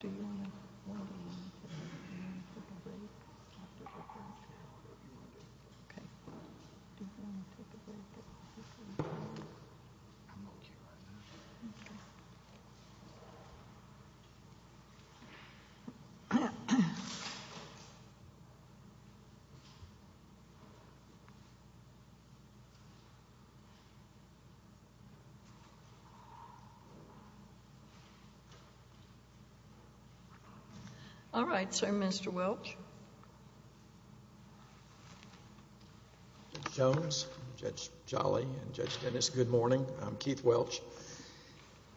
Do you want to take a break after the break? Okay. Do you want to take a break? I'm okay right now. Okay. All right, Sir and Mr. Welch. Judge Jones, Judge Jolly, and Judge Dennis, good morning. I'm Keith Welch.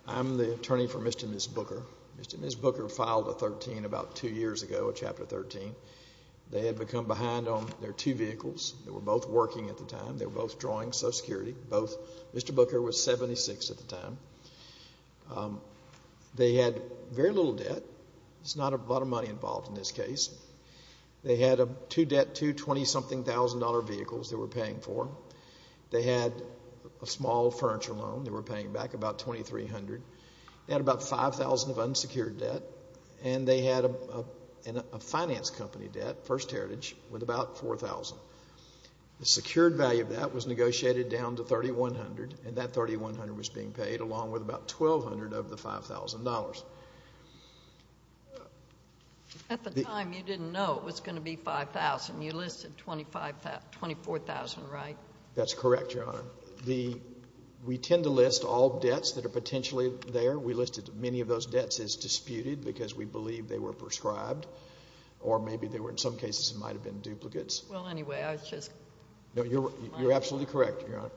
I'm the attorney for Mr. and Ms. Booker. Mr. and Ms. Booker filed a 13 about two years ago, a Chapter 13. They had become behind on their two vehicles. They were both working at the time. They were both drawing Social Security, both. Mr. Booker was 76 at the time. They had very little debt. There's not a lot of money involved in this case. They had two debt, two $20-something vehicles they were paying for. They had a small furniture loan they were paying back, about $2,300. They had about $5,000 of unsecured debt. And they had a finance company debt, First Heritage, with about $4,000. The secured value of that was negotiated down to $3,100, and that $3,100 was being paid along with about $1,200 of the $5,000. At the time, you didn't know it was going to be $5,000. You listed $24,000, right? That's correct, Your Honor. We tend to list all debts that are potentially there. We listed many of those debts as disputed because we believe they were prescribed or maybe they were in some cases might have been duplicates. Well, anyway, I was just wondering. No, you're absolutely correct, Your Honor.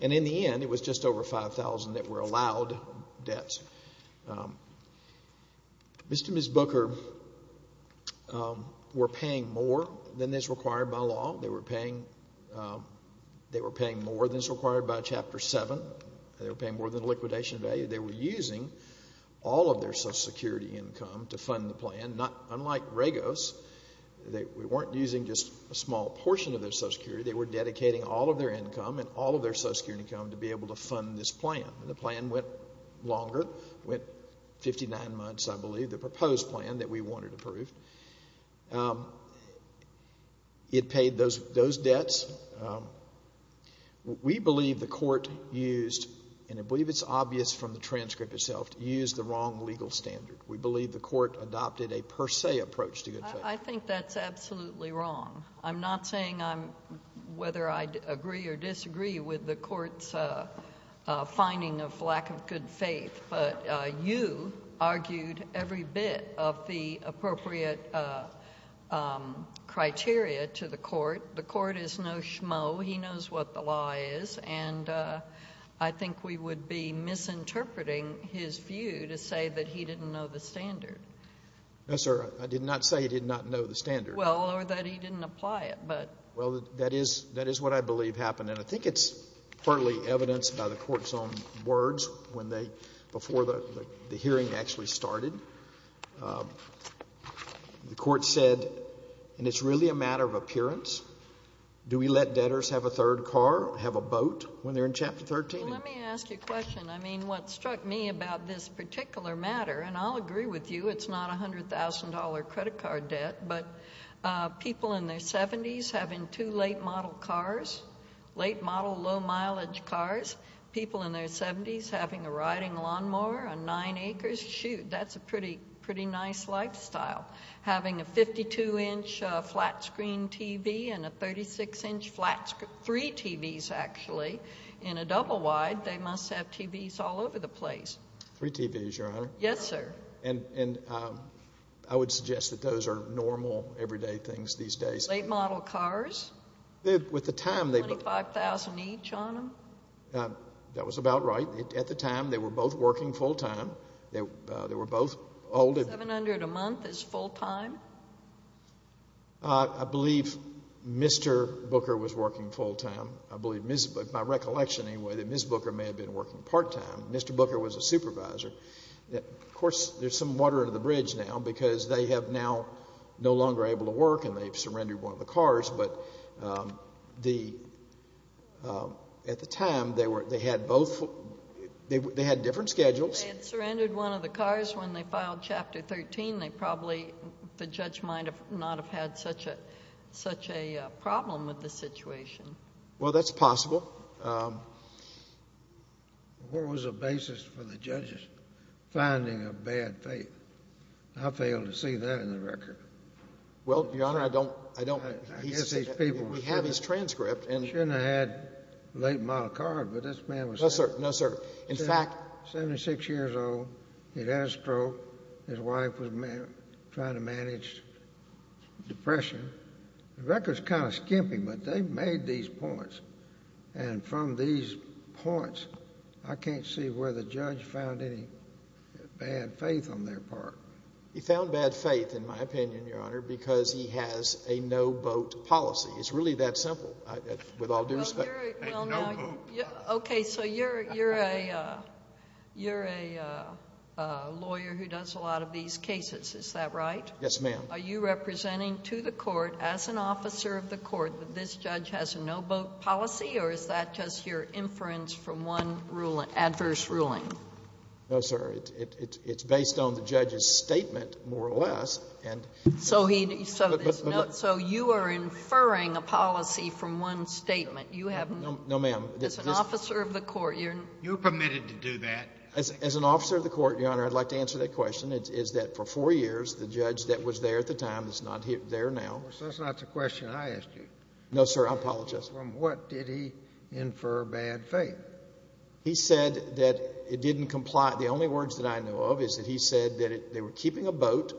And in the end, it was just over $5,000 that were allowed debts. Mr. and Ms. Booker were paying more than is required by law. They were paying more than is required by Chapter 7. They were paying more than the liquidation value. They were using all of their Social Security income to fund the plan. Unlike Regos, we weren't using just a small portion of their Social Security. They were dedicating all of their income and all of their Social Security income to be able to fund this plan. The plan went longer, went 59 months, I believe, the proposed plan that we wanted approved. It paid those debts. We believe the court used, and I believe it's obvious from the transcript itself, used the wrong legal standard. We believe the court adopted a per se approach to good faith. I think that's absolutely wrong. I'm not saying whether I agree or disagree with the court's finding of lack of good faith, but you argued every bit of the appropriate criteria to the court. The court is no schmo. He knows what the law is. And I think we would be misinterpreting his view to say that he didn't know the standard. No, sir. I did not say he did not know the standard. Well, or that he didn't apply it. Well, that is what I believe happened, and I think it's partly evidenced by the court's own words before the hearing actually started. The court said, and it's really a matter of appearance, do we let debtors have a third car, have a boat when they're in Chapter 13? Let me ask you a question. I mean, what struck me about this particular matter, and I'll agree with you, it's not $100,000 credit card debt, but people in their 70s having two late model cars, late model low mileage cars, people in their 70s having a riding lawnmower on nine acres, shoot, that's a pretty nice lifestyle. Having a 52-inch flat screen TV and a 36-inch flat screen, three TVs actually, in a double wide, they must have TVs all over the place. Three TVs, Your Honor? Yes, sir. And I would suggest that those are normal, everyday things these days. Late model cars? With the time, they've been $25,000 each on them? That was about right. At the time, they were both working full-time. They were both old and $700 a month is full-time? I believe Mr. Booker was working full-time. I believe, by recollection anyway, that Ms. Booker may have been working part-time. Mr. Booker was a supervisor. Of course, there's some water under the bridge now because they have now no longer able to work and they've surrendered one of the cars. But at the time, they had different schedules. They had surrendered one of the cars when they filed Chapter 13. They probably, the judge might not have had such a problem with the situation. Well, that's possible. What was the basis for the judge's finding of bad faith? I fail to see that in the record. Well, Your Honor, I don't — I don't — I guess these people — We have his transcript. He shouldn't have had late model cars, but this man was — No, sir. No, sir. In fact — 76 years old. He'd had a stroke. His wife was trying to manage depression. The record's kind of skimpy, but they made these points. And from these points, I can't see where the judge found any bad faith on their part. He found bad faith, in my opinion, Your Honor, because he has a no-boat policy. It's really that simple with all due respect. Well, you're a — A no-boat. Okay, so you're a lawyer who does a lot of these cases. Is that right? Yes, ma'am. Are you representing to the court, as an officer of the court, that this judge has a no-boat policy, or is that just your inference from one adverse ruling? No, sir. It's based on the judge's statement, more or less, and — So he — so you are inferring a policy from one statement. You haven't — No, ma'am. As an officer of the court, you're — You're permitted to do that. As an officer of the court, Your Honor, I'd like to answer that question. It's that for four years, the judge that was there at the time is not there now. That's not the question I asked you. No, sir. I apologize. From what did he infer bad faith? He said that it didn't comply — the only words that I know of is that he said that they were keeping a boat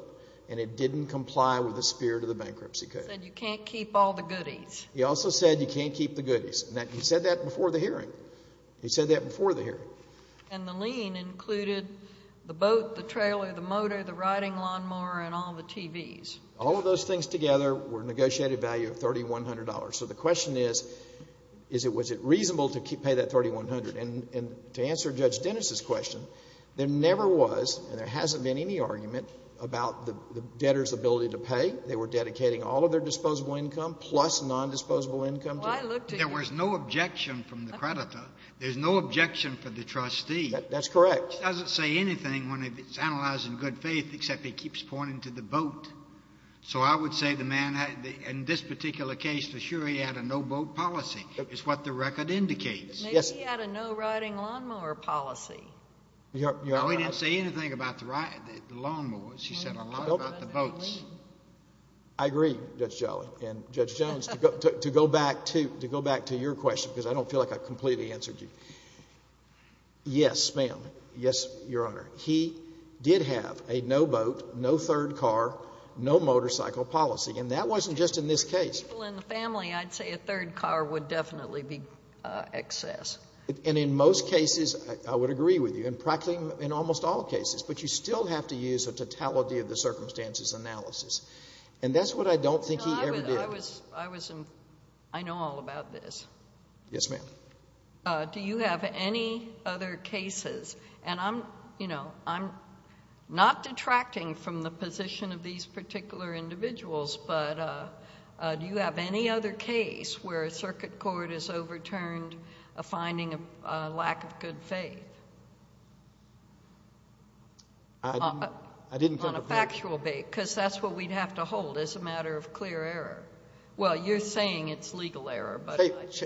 and it didn't comply with the spirit of the bankruptcy code. He said you can't keep all the goodies. He also said you can't keep the goodies. He said that before the hearing. He said that before the hearing. And the lien included the boat, the trailer, the motor, the riding lawnmower, and all the TVs. All of those things together were negotiated value of $3,100. So the question is, is it — was it reasonable to pay that $3,100? And to answer Judge Dennis's question, there never was and there hasn't been any argument about the debtor's ability to pay. They were dedicating all of their disposable income plus non-disposable income to it. Well, I looked at — There was no objection from the creditor. There's no objection for the trustee. That's correct. He doesn't say anything when it's analyzed in good faith except he keeps pointing to the boat. So I would say the man had — in this particular case, for sure he had a no-boat policy. It's what the record indicates. Maybe he had a no-riding lawnmower policy. No, he didn't say anything about the lawnmowers. He said a lot about the boats. I agree, Judge Jolly and Judge Jones, to go back to — to go back to your question because I don't feel like I completely answered you. Yes, ma'am. Yes, Your Honor. He did have a no-boat, no-third-car, no-motorcycle policy, and that wasn't just in this case. Well, in the family, I'd say a third car would definitely be excess. And in most cases, I would agree with you, and practically in almost all cases, but you still have to use a totality-of-the-circumstances analysis. And that's what I don't think he ever did. I was — I know all about this. Yes, ma'am. Do you have any other cases — and I'm, you know, I'm not detracting from the position of these particular individuals, but do you have any other case where a circuit court has overturned a finding of lack of good faith? I didn't think of that. On a factual basis, because that's what we'd have to hold as a matter of clear error. Well, you're saying it's legal error, but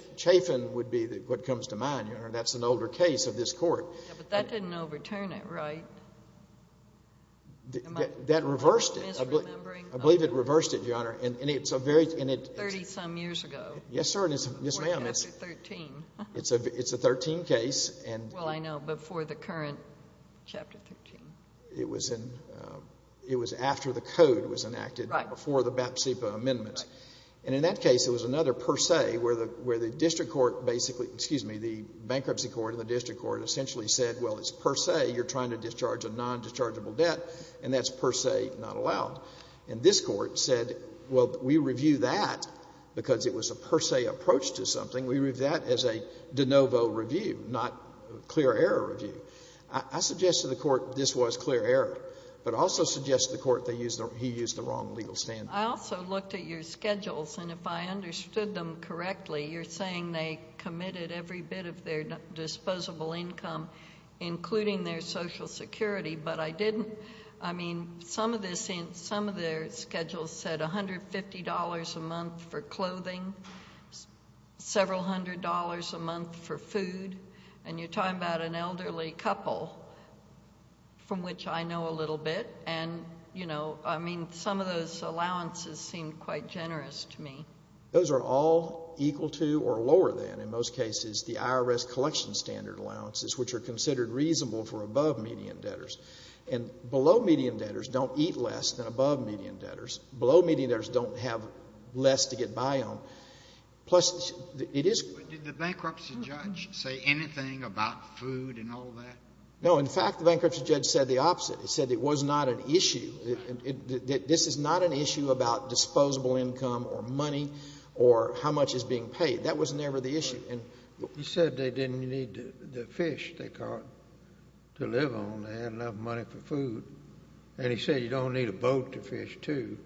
— Chafin would be what comes to mind, Your Honor. That's an older case of this Court. Yeah, but that didn't overturn it, right? That reversed it. Am I misremembering? I believe it reversed it, Your Honor. And it's a very — Thirty-some years ago. Yes, sir. Yes, ma'am. Before Chapter 13. It's a 13 case, and — Well, I know. Before the current Chapter 13. It was in — it was after the Code was enacted. Right. Before the BAP-CEPA amendments. Right. And in that case, there was another per se where the — where the district court basically — excuse me, the bankruptcy court and the district court essentially said, well, it's per se, you're trying to discharge a nondischargeable debt, and that's per se not allowed. And this Court said, well, we review that because it was a per se approach to something. We review that as a de novo review, not clear error review. I suggested to the Court this was clear error, but I also suggested to the Court they use the — he used the wrong legal standard. I also looked at your schedules, and if I understood them correctly, you're saying they committed every bit of their disposable income, including their Social Security. But I didn't — I mean, some of this — some of their schedules said $150 a month for clothing, several hundred dollars a month for food. And you're talking about an elderly couple, from which I know a little bit. And, you know, I mean, some of those allowances seemed quite generous to me. Those are all equal to or lower than, in most cases, the IRS collection standard allowances, which are considered reasonable for above-median debtors. And below-median debtors don't eat less than above-median debtors. Below-median debtors don't have less to get by on. Plus, it is — Did the bankruptcy judge say anything about food and all that? No. In fact, the bankruptcy judge said the opposite. He said it was not an issue. This is not an issue about disposable income or money or how much is being paid. That was never the issue. He said they didn't need the fish they caught to live on. They had enough money for food. And he said you don't need a boat to fish, too.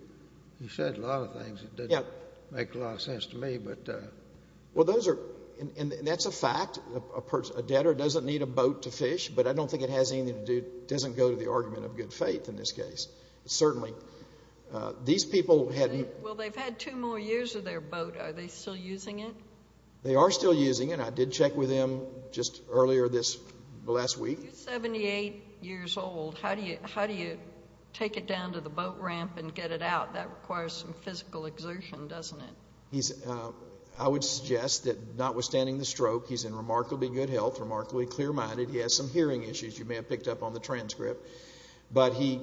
He said a lot of things that didn't make a lot of sense to me, but — Well, those are — and that's a fact. A debtor doesn't need a boat to fish, but I don't think it has anything to do — doesn't go to the argument of good faith in this case. Certainly, these people had — Well, they've had two more years of their boat. Are they still using it? They are still using it. I did check with them just earlier this — last week. You're 78 years old. How do you take it down to the boat ramp and get it out? That requires some physical exertion, doesn't it? I would suggest that notwithstanding the stroke, he's in remarkably good health, remarkably clear-minded. He has some hearing issues you may have picked up on the transcript. But he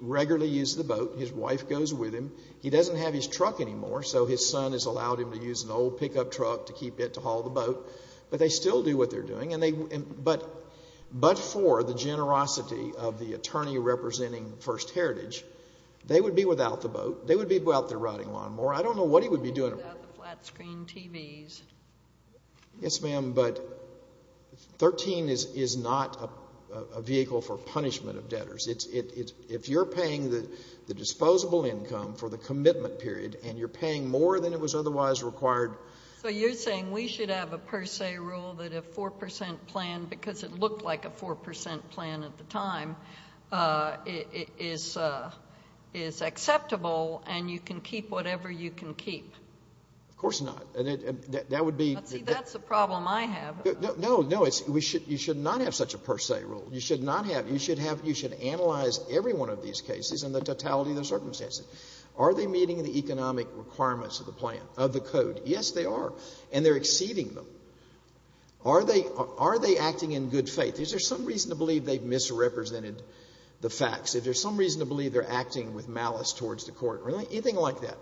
regularly uses the boat. His wife goes with him. He doesn't have his truck anymore, so his son has allowed him to use an old pickup truck to keep it to haul the boat. But they still do what they're doing. But for the generosity of the attorney representing First Heritage, they would be without the boat. They would be out there riding lawnmower. I don't know what he would be doing. Without the flat-screen TVs. Yes, ma'am, but 13 is not a vehicle for punishment of debtors. If you're paying the disposable income for the commitment period and you're paying more than it was otherwise required — So you're saying we should have a per se rule that a 4 percent plan, because it looked like a 4 percent plan at the time, is acceptable and you can keep whatever you can keep? Of course not. That would be — See, that's the problem I have. No, no. You should not have such a per se rule. You should analyze every one of these cases and the totality of the circumstances. Are they meeting the economic requirements of the plan, of the code? Yes, they are. And they're exceeding them. Are they acting in good faith? Is there some reason to believe they've misrepresented the facts? Is there some reason to believe they're acting with malice towards the court? Anything like that.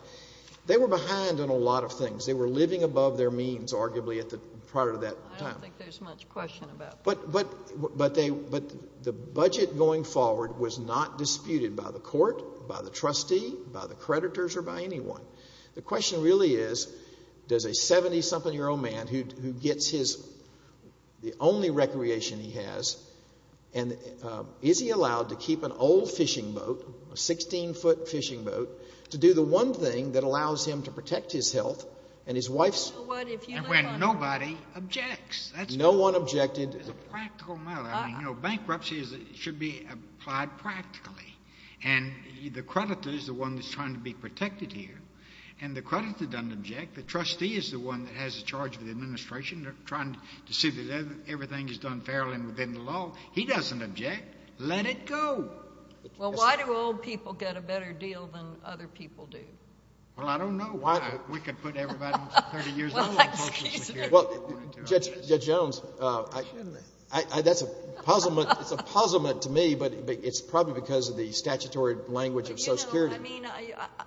They were behind on a lot of things. They were living above their means, arguably, prior to that time. I don't think there's much question about that. But the budget going forward was not disputed by the court, by the trustee, by the creditors, or by anyone. The question really is, does a 70-something-year-old man who gets the only recreation he has, is he allowed to keep an old fishing boat, a 16-foot fishing boat, to do the one thing that allows him to protect his health and his wife's? And when nobody objects. No one objected. It's a practical matter. Bankruptcy should be applied practically. And the creditor is the one that's trying to be protected here. And the creditor doesn't object. The trustee is the one that has the charge of the administration, trying to see that everything is done fairly and within the law. He doesn't object. Let it go. Well, why do old people get a better deal than other people do? Well, I don't know. We could put everybody 30 years old on Social Security. Judge Jones, that's a puzzlement to me, but it's probably because of the statutory language of Social Security. I mean,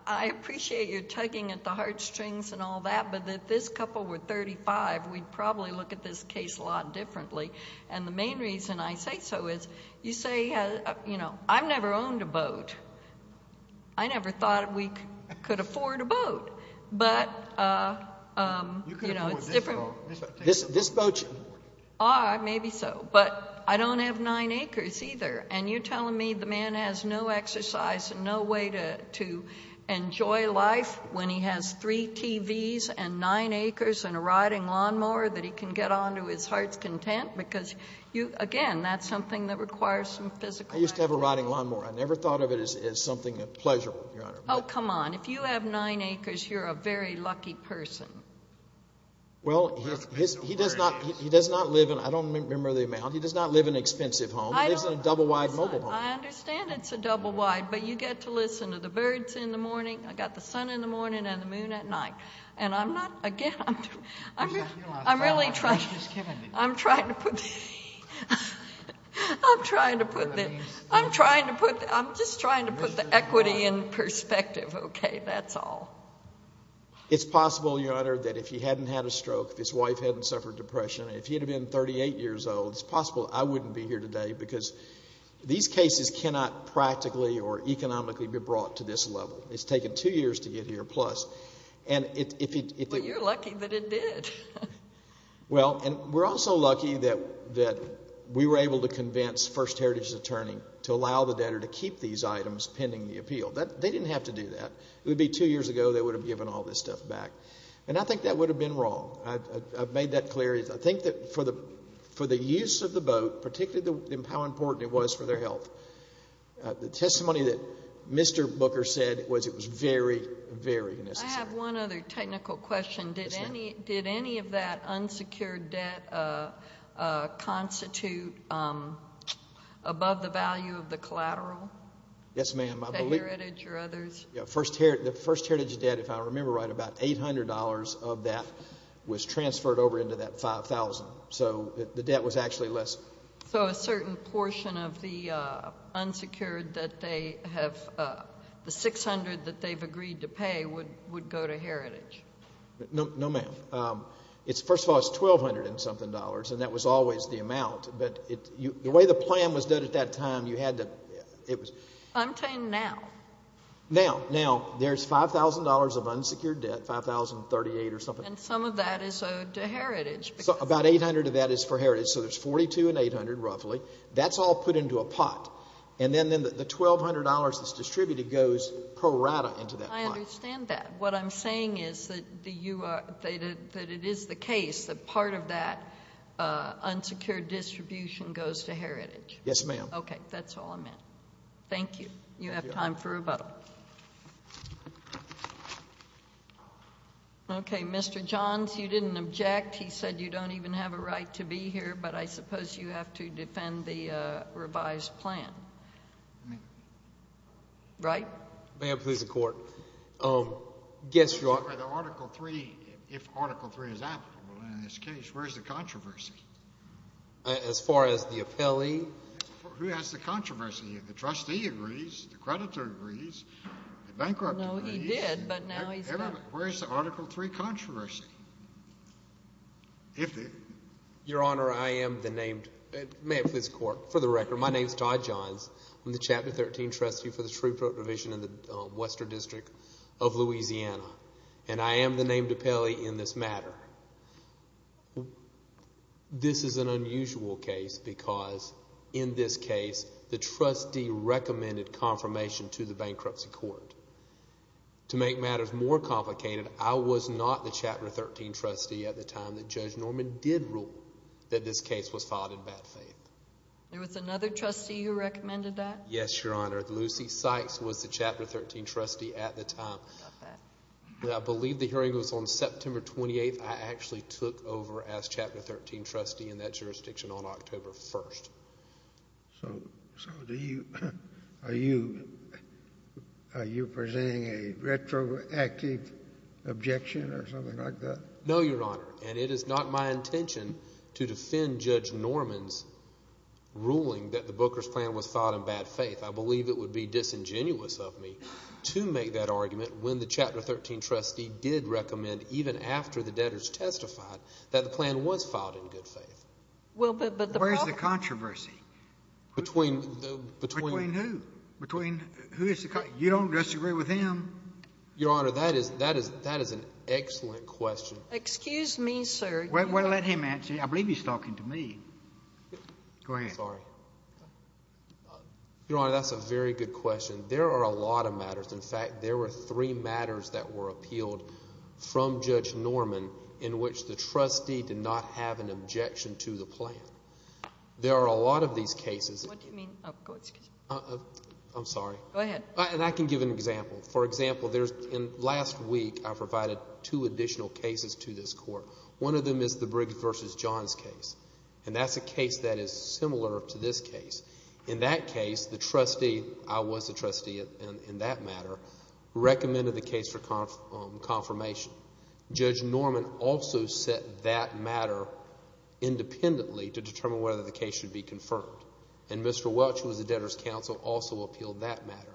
I appreciate your tugging at the heartstrings and all that, but if this couple were 35, we'd probably look at this case a lot differently. And the main reason I say so is, you say, you know, I've never owned a boat. I never thought we could afford a boat. But, you know, it's different. You could have bought this boat. This boat? Ah, maybe so. But I don't have nine acres either. And you're telling me the man has no exercise and no way to enjoy life when he has three TVs and nine acres and a riding lawnmower that he can get on to his heart's content? Because, again, that's something that requires some physical activity. I used to have a riding lawnmower. I never thought of it as something pleasurable, Your Honor. Oh, come on. If you have nine acres, you're a very lucky person. Well, he does not live in an expensive home. He lives in a double-wide mobile home. I understand it's a double-wide, but you get to listen to the birds in the morning. I've got the sun in the morning and the moon at night. And I'm not, again, I'm really trying to put the equity in perspective. Okay, that's all. It's possible, Your Honor, that if he hadn't had a stroke, if his wife hadn't suffered depression, if he had been 38 years old, it's possible I wouldn't be here today because these cases cannot practically or economically be brought to this level. It's taken two years to get here plus. But you're lucky that it did. Well, and we're also lucky that we were able to convince First Heritage's attorney to allow the debtor to keep these items pending the appeal. They didn't have to do that. It would be two years ago they would have given all this stuff back. And I think that would have been wrong. I've made that clear. I think that for the use of the boat, particularly how important it was for their health, the testimony that Mr. Booker said was it was very, very necessary. I have one other technical question. Did any of that unsecured debt constitute above the value of the collateral? Yes, ma'am. The Heritage or others? The First Heritage debt, if I remember right, about $800 of that was transferred over into that $5,000. So the debt was actually less. So a certain portion of the unsecured that they have, the $600 that they've agreed to pay, would go to Heritage? No, ma'am. First of all, it's $1,200 and something dollars, and that was always the amount. The way the plan was done at that time, you had to... I'm saying now. Now. Now. There's $5,000 of unsecured debt, $5,038 or something. And some of that is owed to Heritage. About $800 of that is for Heritage. So there's $4,200 and $800, roughly. That's all put into a pot. And then the $1,200 that's distributed goes pro rata into that pot. I understand that. What I'm saying is that it is the case that part of that unsecured distribution goes to Heritage. Yes, ma'am. Okay, that's all I meant. Thank you. You have time for a vote. Okay, Mr. Johns, you didn't object. He said you don't even have a right to be here, but I suppose you have to defend the revised plan. Right? Your Honor, may I please have the Court. If Article III is applicable in this case, where is the controversy? As far as the appellee? Who has the controversy? The trustee agrees, the creditor agrees, the bankrupt agrees. No, he did, but now he's not. Where is the Article III controversy? Your Honor, I am the named... may I please have the Court, for the record. My name is Todd Johns. I'm the Chapter 13 trustee for the Shreveport Division in the Western District of Louisiana, and I am the named appellee in this matter. This is an unusual case because, in this case, the trustee recommended confirmation to the bankruptcy court. To make matters more complicated, I was not the Chapter 13 trustee at the time that Judge Norman did rule that this case was filed in bad faith. There was another trustee who recommended that? Yes, Your Honor. Lucy Sykes was the Chapter 13 trustee at the time. I believe the hearing was on September 28th. I actually took over as Chapter 13 trustee in that jurisdiction on October 1st. So are you presenting a retroactive objection or something like that? No, Your Honor, and it is not my intention to defend Judge Norman's ruling that the Booker's plan was filed in bad faith. I believe it would be disingenuous of me to make that argument when the Chapter 13 trustee did recommend, even after the debtors testified, that the plan was filed in good faith. Well, but the problem— Where is the controversy? Between the— Between who? Between who is the—you don't disagree with him? Your Honor, that is an excellent question. Excuse me, sir. Why don't you let him answer? I believe he's talking to me. Go ahead. I'm sorry. Your Honor, that's a very good question. There are a lot of matters. In fact, there were three matters that were appealed from Judge Norman in which the trustee did not have an objection to the plan. There are a lot of these cases— What do you mean? Oh, go ahead. I'm sorry. Go ahead. And I can give an example. For example, there's—last week I provided two additional cases to this Court. One of them is the Briggs v. Johns case, and that's a case that is similar to this case. In that case, the trustee—I was the trustee in that matter—recommended the case for confirmation. Judge Norman also set that matter independently to determine whether the case should be confirmed. And Mr. Welch, who was the debtor's counsel, also appealed that matter.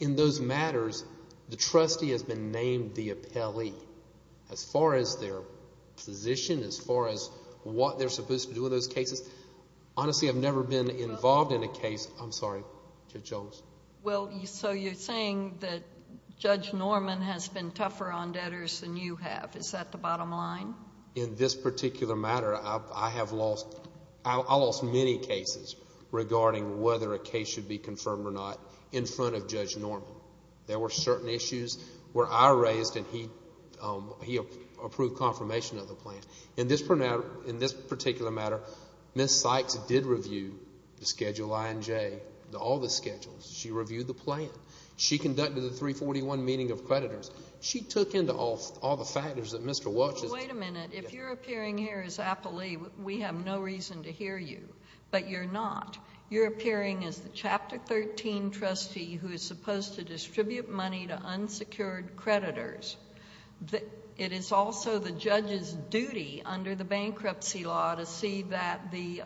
In those matters, the trustee has been named the appellee as far as their position, as far as what they're supposed to do in those cases. Honestly, I've never been involved in a case—I'm sorry, Judge Jones. Well, so you're saying that Judge Norman has been tougher on debtors than you have. Is that the bottom line? In this particular matter, I have lost—I lost many cases regarding whether a case should be confirmed or not in front of Judge Norman. There were certain issues where I raised and he approved confirmation of the plan. In this particular matter, Ms. Sykes did review the Schedule I and J, all the schedules. She reviewed the plan. She conducted the 341 meeting of creditors. She took into all the factors that Mr. Welch is— Wait a minute. If you're appearing here as appellee, we have no reason to hear you. But you're not. You're appearing as the Chapter 13 trustee who is supposed to distribute money to unsecured creditors. It is also the judge's duty under the bankruptcy law to see that the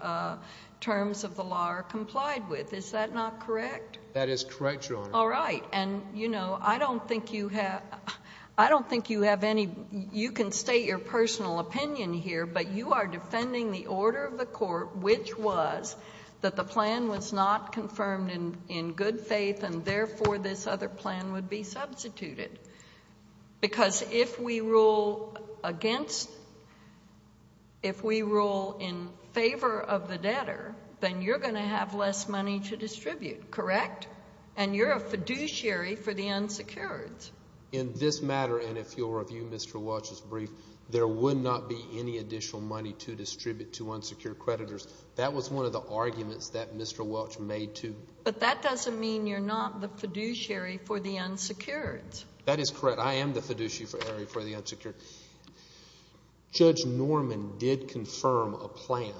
terms of the law are complied with. Is that not correct? That is correct, Your Honor. All right. And, you know, I don't think you have—I don't think you have any—you can state your personal opinion here, but you are defending the order of the court, which was that the plan was not confirmed in good faith and therefore this other plan would be substituted. Because if we rule against—if we rule in favor of the debtor, then you're going to have less money to distribute. Correct? Correct. And you're a fiduciary for the unsecured. In this matter, and if you'll review Mr. Welch's brief, there would not be any additional money to distribute to unsecured creditors. That was one of the arguments that Mr. Welch made, too. But that doesn't mean you're not the fiduciary for the unsecured. That is correct. I am the fiduciary for the unsecured. Judge Norman did confirm a plan,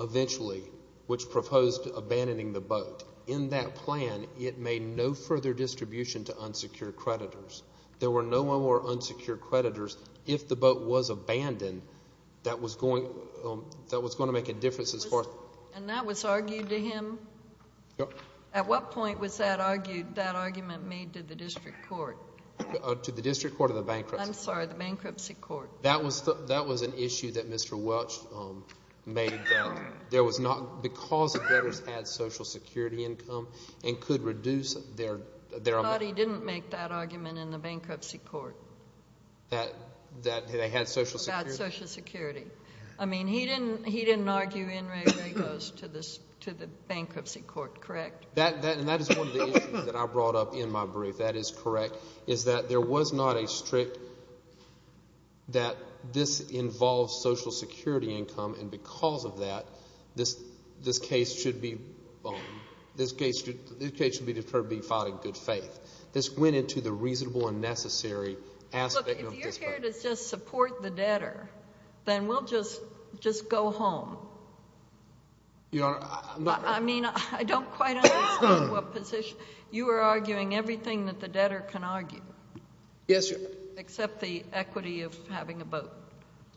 eventually, which proposed abandoning the boat. In that plan, it made no further distribution to unsecured creditors. There were no more unsecured creditors. If the boat was abandoned, that was going to make a difference as far— And that was argued to him? At what point was that argued—that argument made to the district court? To the district court or the bankruptcy court? I'm sorry, the bankruptcy court. That was an issue that Mr. Welch made that there was not—because the debtors had Social Security income and could reduce their— I thought he didn't make that argument in the bankruptcy court. That they had Social Security? About Social Security. I mean, he didn't argue in regoes to the bankruptcy court, correct? And that is one of the issues that I brought up in my brief. If that is correct, is that there was not a strict—that this involves Social Security income, and because of that, this case should be—this case should be deferred to be filed in good faith. This went into the reasonable and necessary aspect of district court. Look, if you're here to just support the debtor, then we'll just go home. Your Honor, I'm not— I mean, I don't quite understand what position— You are arguing everything that the debtor can argue. Yes, Your Honor. Except the equity of having a vote.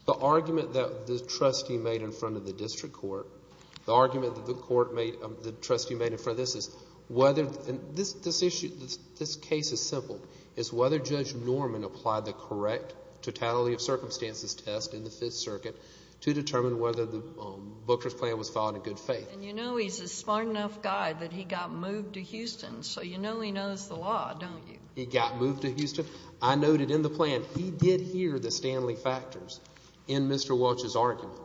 The argument that the trustee made in front of the district court, the argument that the court made—the trustee made in front of this is whether— and this issue—this case is simple. It's whether Judge Norman applied the correct totality of circumstances test in the Fifth Circuit to determine whether the Booker's plan was filed in good faith. And you know he's a smart enough guy that he got moved to Houston, so you know he knows the law, don't you? He got moved to Houston. I noted in the plan he did hear the Stanley factors in Mr. Welch's argument.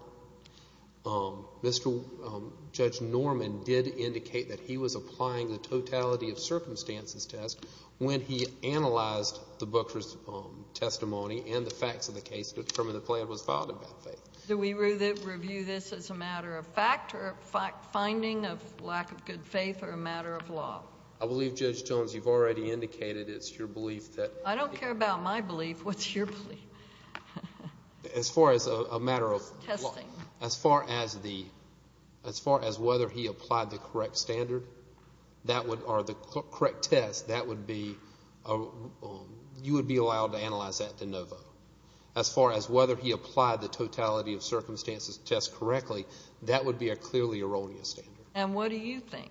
Judge Norman did indicate that he was applying the totality of circumstances test when he analyzed the Booker's testimony and the facts of the case to determine the plan was filed in bad faith. Do we review this as a matter of fact or finding of lack of good faith or a matter of law? I believe, Judge Jones, you've already indicated it's your belief that— I don't care about my belief. What's your belief? As far as a matter of— Testing. As far as the—as far as whether he applied the correct standard or the correct test, that would be—you would be allowed to analyze that to no vote. As far as whether he applied the totality of circumstances test correctly, that would be a clearly erroneous standard. And what do you think?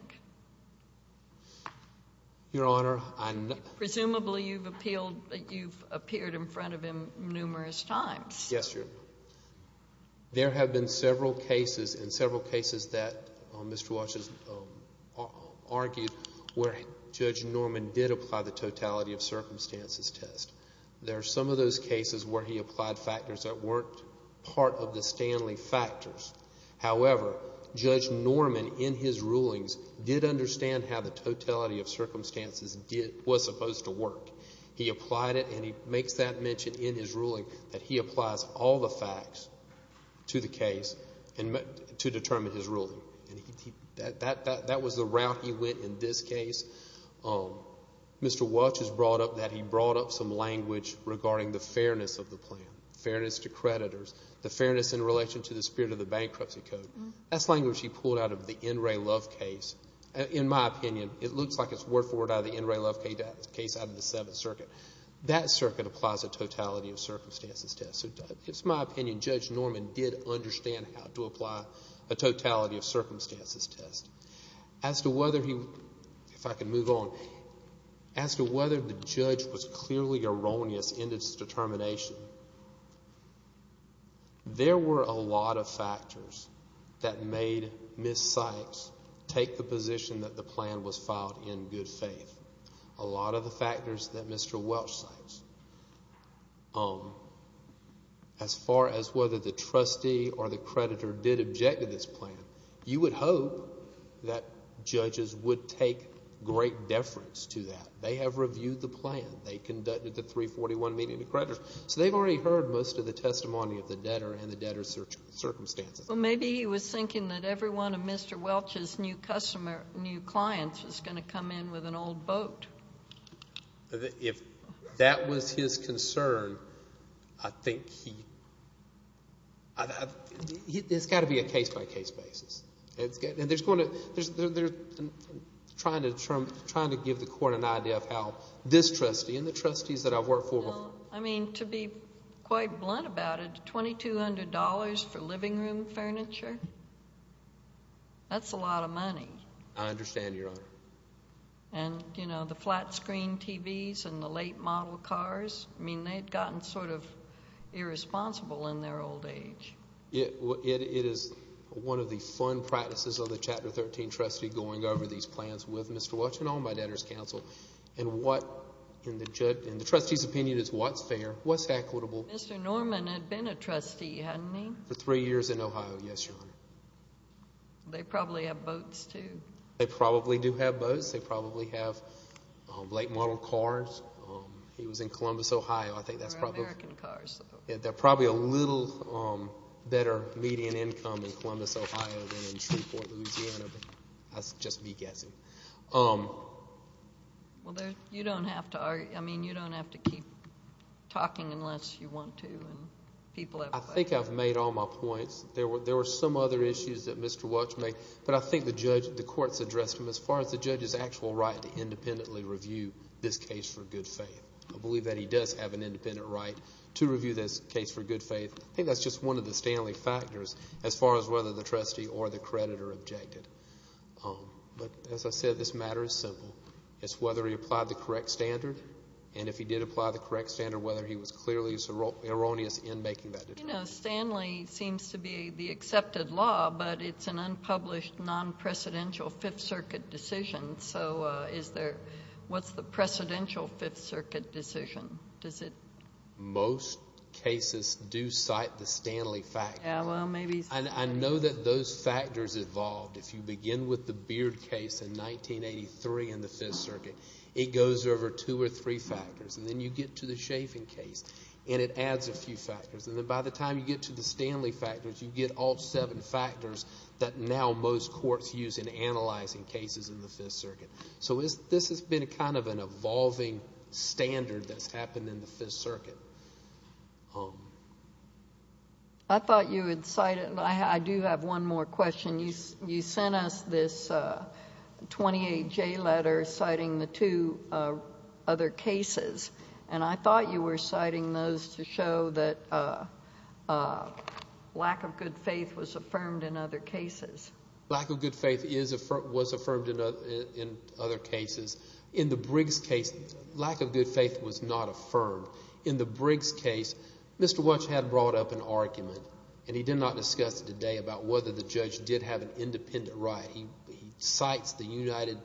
Your Honor, I— Presumably you've appealed—you've appeared in front of him numerous times. Yes, Your Honor. There have been several cases and several cases that Mr. Welch has argued where Judge Norman did apply the totality of circumstances test. There are some of those cases where he applied factors that weren't part of the Stanley factors. However, Judge Norman, in his rulings, did understand how the totality of circumstances was supposed to work. He applied it, and he makes that mention in his ruling that he applies all the facts to the case to determine his ruling. That was the route he went in this case. Mr. Welch has brought up that he brought up some language regarding the fairness of the plan, fairness to creditors, the fairness in relation to the spirit of the bankruptcy code. That's language he pulled out of the N. Ray Love case. In my opinion, it looks like it's word for word out of the N. Ray Love case out of the Seventh Circuit. That circuit applies a totality of circumstances test. So it's my opinion Judge Norman did understand how to apply a totality of circumstances test. As to whether he—if I could move on—as to whether the judge was clearly erroneous in his determination, there were a lot of factors that made Ms. Sykes take the position that the plan was filed in good faith, a lot of the factors that Mr. Welch cites. As far as whether the trustee or the creditor did object to this plan, you would hope that judges would take great deference to that. They have reviewed the plan. They conducted the 341 meeting of creditors. So they've already heard most of the testimony of the debtor and the debtor's circumstances. Well, maybe he was thinking that every one of Mr. Welch's new clients was going to come in with an old boat. If that was his concern, I think he—there's got to be a case-by-case basis. And there's going to—they're trying to give the court an idea of how this trustee and the trustees that I've worked for before— Well, I mean, to be quite blunt about it, $2,200 for living room furniture, that's a lot of money. I understand, Your Honor. And, you know, the flat screen TVs and the late model cars, I mean, they've gotten sort of irresponsible in their old age. It is one of the fun practices of the Chapter 13 trustee going over these plans with Mr. Welch and all my debtors counsel. And what, in the trustees' opinion, is what's fair, what's equitable? Mr. Norman had been a trustee, hadn't he? For three years in Ohio, yes, Your Honor. They probably have boats, too. They probably do have boats. They probably have late model cars. He was in Columbus, Ohio. I think that's probably— Or American cars. They're probably a little better median income in Columbus, Ohio than in Shreveport, Louisiana. That's just me guessing. Well, you don't have to argue—I mean, you don't have to keep talking unless you want to and people have— I think I've made all my points. There were some other issues that Mr. Welch made, but I think the court's addressed them as far as the judge's actual right to independently review this case for good faith. I believe that he does have an independent right to review this case for good faith. I think that's just one of the Stanley factors as far as whether the trustee or the creditor objected. But, as I said, this matter is simple. It's whether he applied the correct standard, and if he did apply the correct standard, whether he was clearly erroneous in making that determination. Stanley seems to be the accepted law, but it's an unpublished, non-precedential Fifth Circuit decision. So, what's the precedential Fifth Circuit decision? Most cases do cite the Stanley factor. I know that those factors evolved. If you begin with the Beard case in 1983 in the Fifth Circuit, it goes over two or three factors. And then you get to the Chaffin case, and it adds a few factors. And then by the time you get to the Stanley factors, you get all seven factors that now most courts use in analyzing cases in the Fifth Circuit. So, this has been kind of an evolving standard that's happened in the Fifth Circuit. I thought you would cite it. I do have one more question. You sent us this 28J letter citing the two other cases, and I thought you were citing those to show that lack of good faith was affirmed in other cases. Lack of good faith was affirmed in other cases. In the Briggs case, lack of good faith was not affirmed. In the Briggs case, Mr. Welch had brought up an argument, and he did not discuss it today, about whether the judge did have an independent right. He cites the United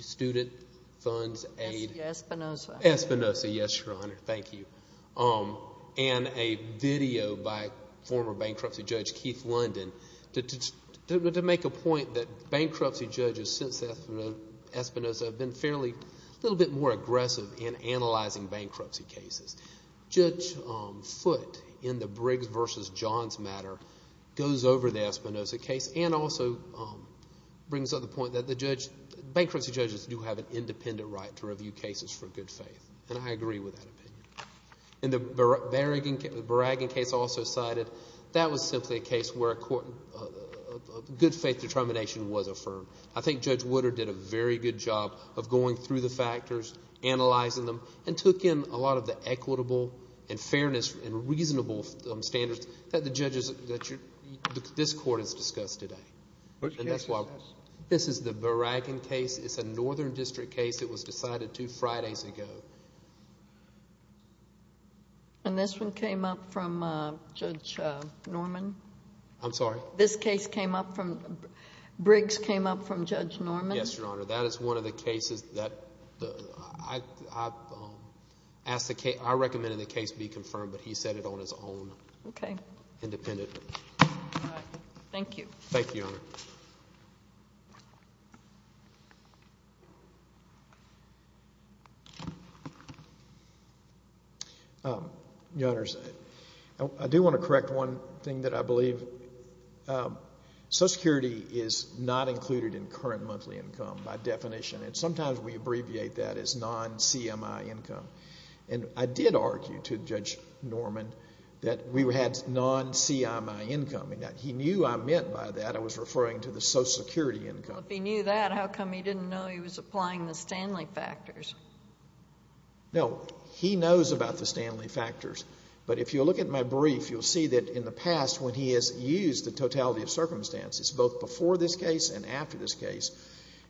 Student Fund's aid. Espinoza. Espinoza, yes, Your Honor. Thank you. And a video by former bankruptcy judge Keith London to make a point that bankruptcy judges since Espinoza have been fairly, a little bit more aggressive in analyzing bankruptcy cases. Judge Foote, in the Briggs v. Johns matter, goes over the Espinoza case and also brings up the point that bankruptcy judges do have an independent right to review cases for good faith. And I agree with that opinion. In the Beraggan case also cited, that was simply a case where a good faith determination was affirmed. I think Judge Woodard did a very good job of going through the factors, analyzing them, and took in a lot of the equitable and fairness and reasonable standards that the judges that this court has discussed today. This is the Beraggan case. It's a northern district case. It was decided two Fridays ago. And this one came up from Judge Norman? I'm sorry? This case came up from, Briggs came up from Judge Norman? Yes, Your Honor. That is one of the cases that I recommended the case be confirmed, but he said it on his own. Okay. Independently. All right. Thank you. Thank you, Your Honor. Your Honors, I do want to correct one thing that I believe. Social Security is not included in current monthly income by definition, and sometimes we abbreviate that as non-CMI income. And I did argue to Judge Norman that we had non-CMI income. He knew I meant by that I was referring to the Social Security income. If he knew that, how come he didn't know he was applying the Stanley factors? No, he knows about the Stanley factors. But if you look at my brief, you'll see that in the past when he has used the totality of circumstances, both before this case and after this case,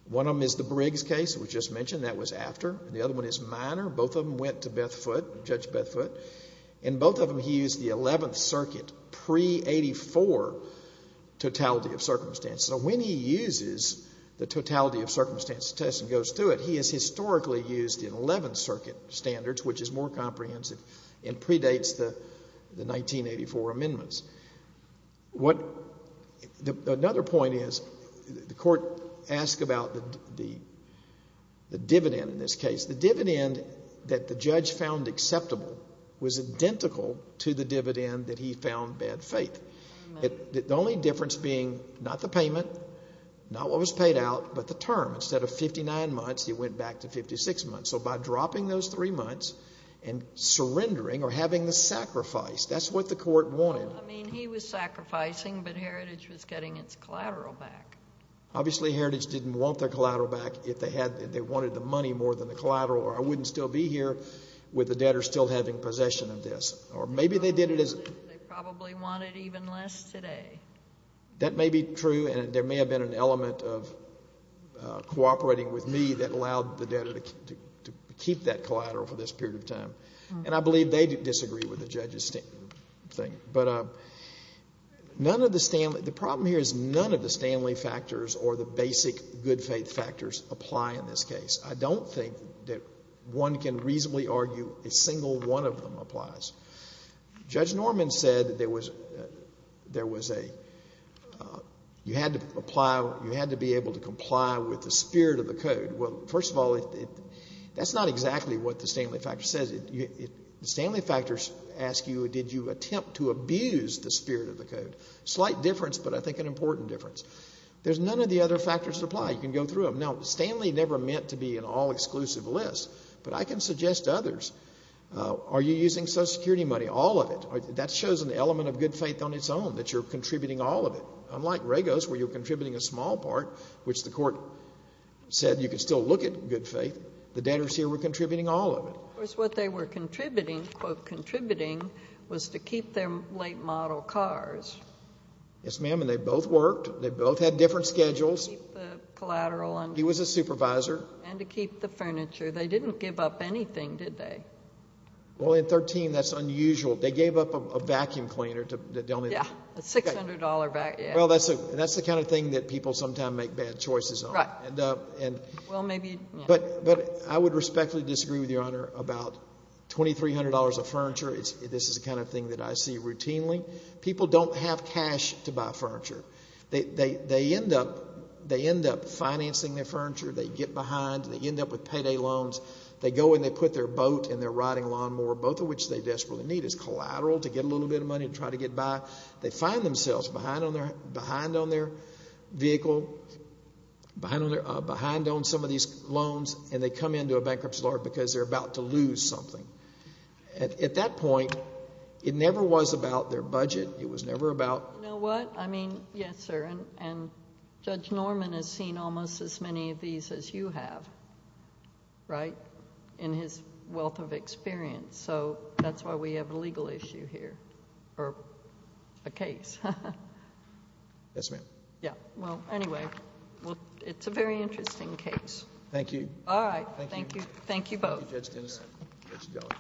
one of them is the Briggs case that was just mentioned. That was after. The other one is minor. Both of them went to Beth Foote, Judge Beth Foote. In both of them, he used the Eleventh Circuit pre-'84 totality of circumstances. So when he uses the totality of circumstances test and goes through it, he has historically used the Eleventh Circuit standards, which is more comprehensive and predates the 1984 amendments. Another point is the court asked about the dividend in this case. The dividend that the judge found acceptable was identical to the dividend that he found bad faith. The only difference being not the payment, not what was paid out, but the term. Instead of 59 months, he went back to 56 months. So by dropping those three months and surrendering or having the sacrifice, that's what the court wanted. I mean, he was sacrificing, but Heritage was getting its collateral back. Obviously, Heritage didn't want their collateral back if they wanted the money more than the collateral, or I wouldn't still be here with the debtor still having possession of this. Or maybe they did it as... They probably want it even less today. That may be true, and there may have been an element of cooperating with me that allowed the debtor to keep that collateral for this period of time. And I believe they disagree with the judge's thing. But none of the Stanley... the problem here is none of the Stanley factors or the basic good faith factors apply in this case. I don't think that one can reasonably argue a single one of them applies. Judge Norman said there was a... you had to apply... you had to be able to comply with the spirit of the code. Well, first of all, that's not exactly what the Stanley factor says. The Stanley factors ask you, did you attempt to abuse the spirit of the code? Slight difference, but I think an important difference. There's none of the other factors that apply. You can go through them. Now, Stanley never meant to be an all-exclusive list, but I can suggest others. Are you using Social Security money? All of it. That shows an element of good faith on its own, that you're contributing all of it. Unlike Regos, where you're contributing a small part, which the court said you could still look at good faith, the debtors here were contributing all of it. Of course, what they were contributing, quote, contributing, was to keep their late model cars. Yes, ma'am, and they both worked. They both had different schedules. To keep the collateral on... He was a supervisor. And to keep the furniture. They didn't give up anything, did they? Well, in 13, that's unusual. They gave up a vacuum cleaner to... Yeah, a $600 vacuum... Well, that's the kind of thing that people sometimes make bad choices on. Right. Well, maybe... But I would respectfully disagree with Your Honor about $2,300 of furniture. This is the kind of thing that I see routinely. People don't have cash to buy furniture. They end up financing their furniture. They get behind. They end up with payday loans. They go and they put their boat and their riding lawnmower, both of which they desperately need, as collateral to get a little bit of money to try to get by. They find themselves behind on their vehicle, behind on some of these loans, and they come into a bankruptcy lawyer because they're about to lose something. At that point, it never was about their budget. It was never about... You know what? I mean, yes, sir. And Judge Norman has seen almost as many of these as you have, right, in his wealth of experience. So that's why we have a legal issue here, or a case. Yes, ma'am. Yes. Well, anyway, it's a very interesting case. Thank you. All right. Thank you. Thank you both. Thank you, Judge Tennyson. Judge Gellar.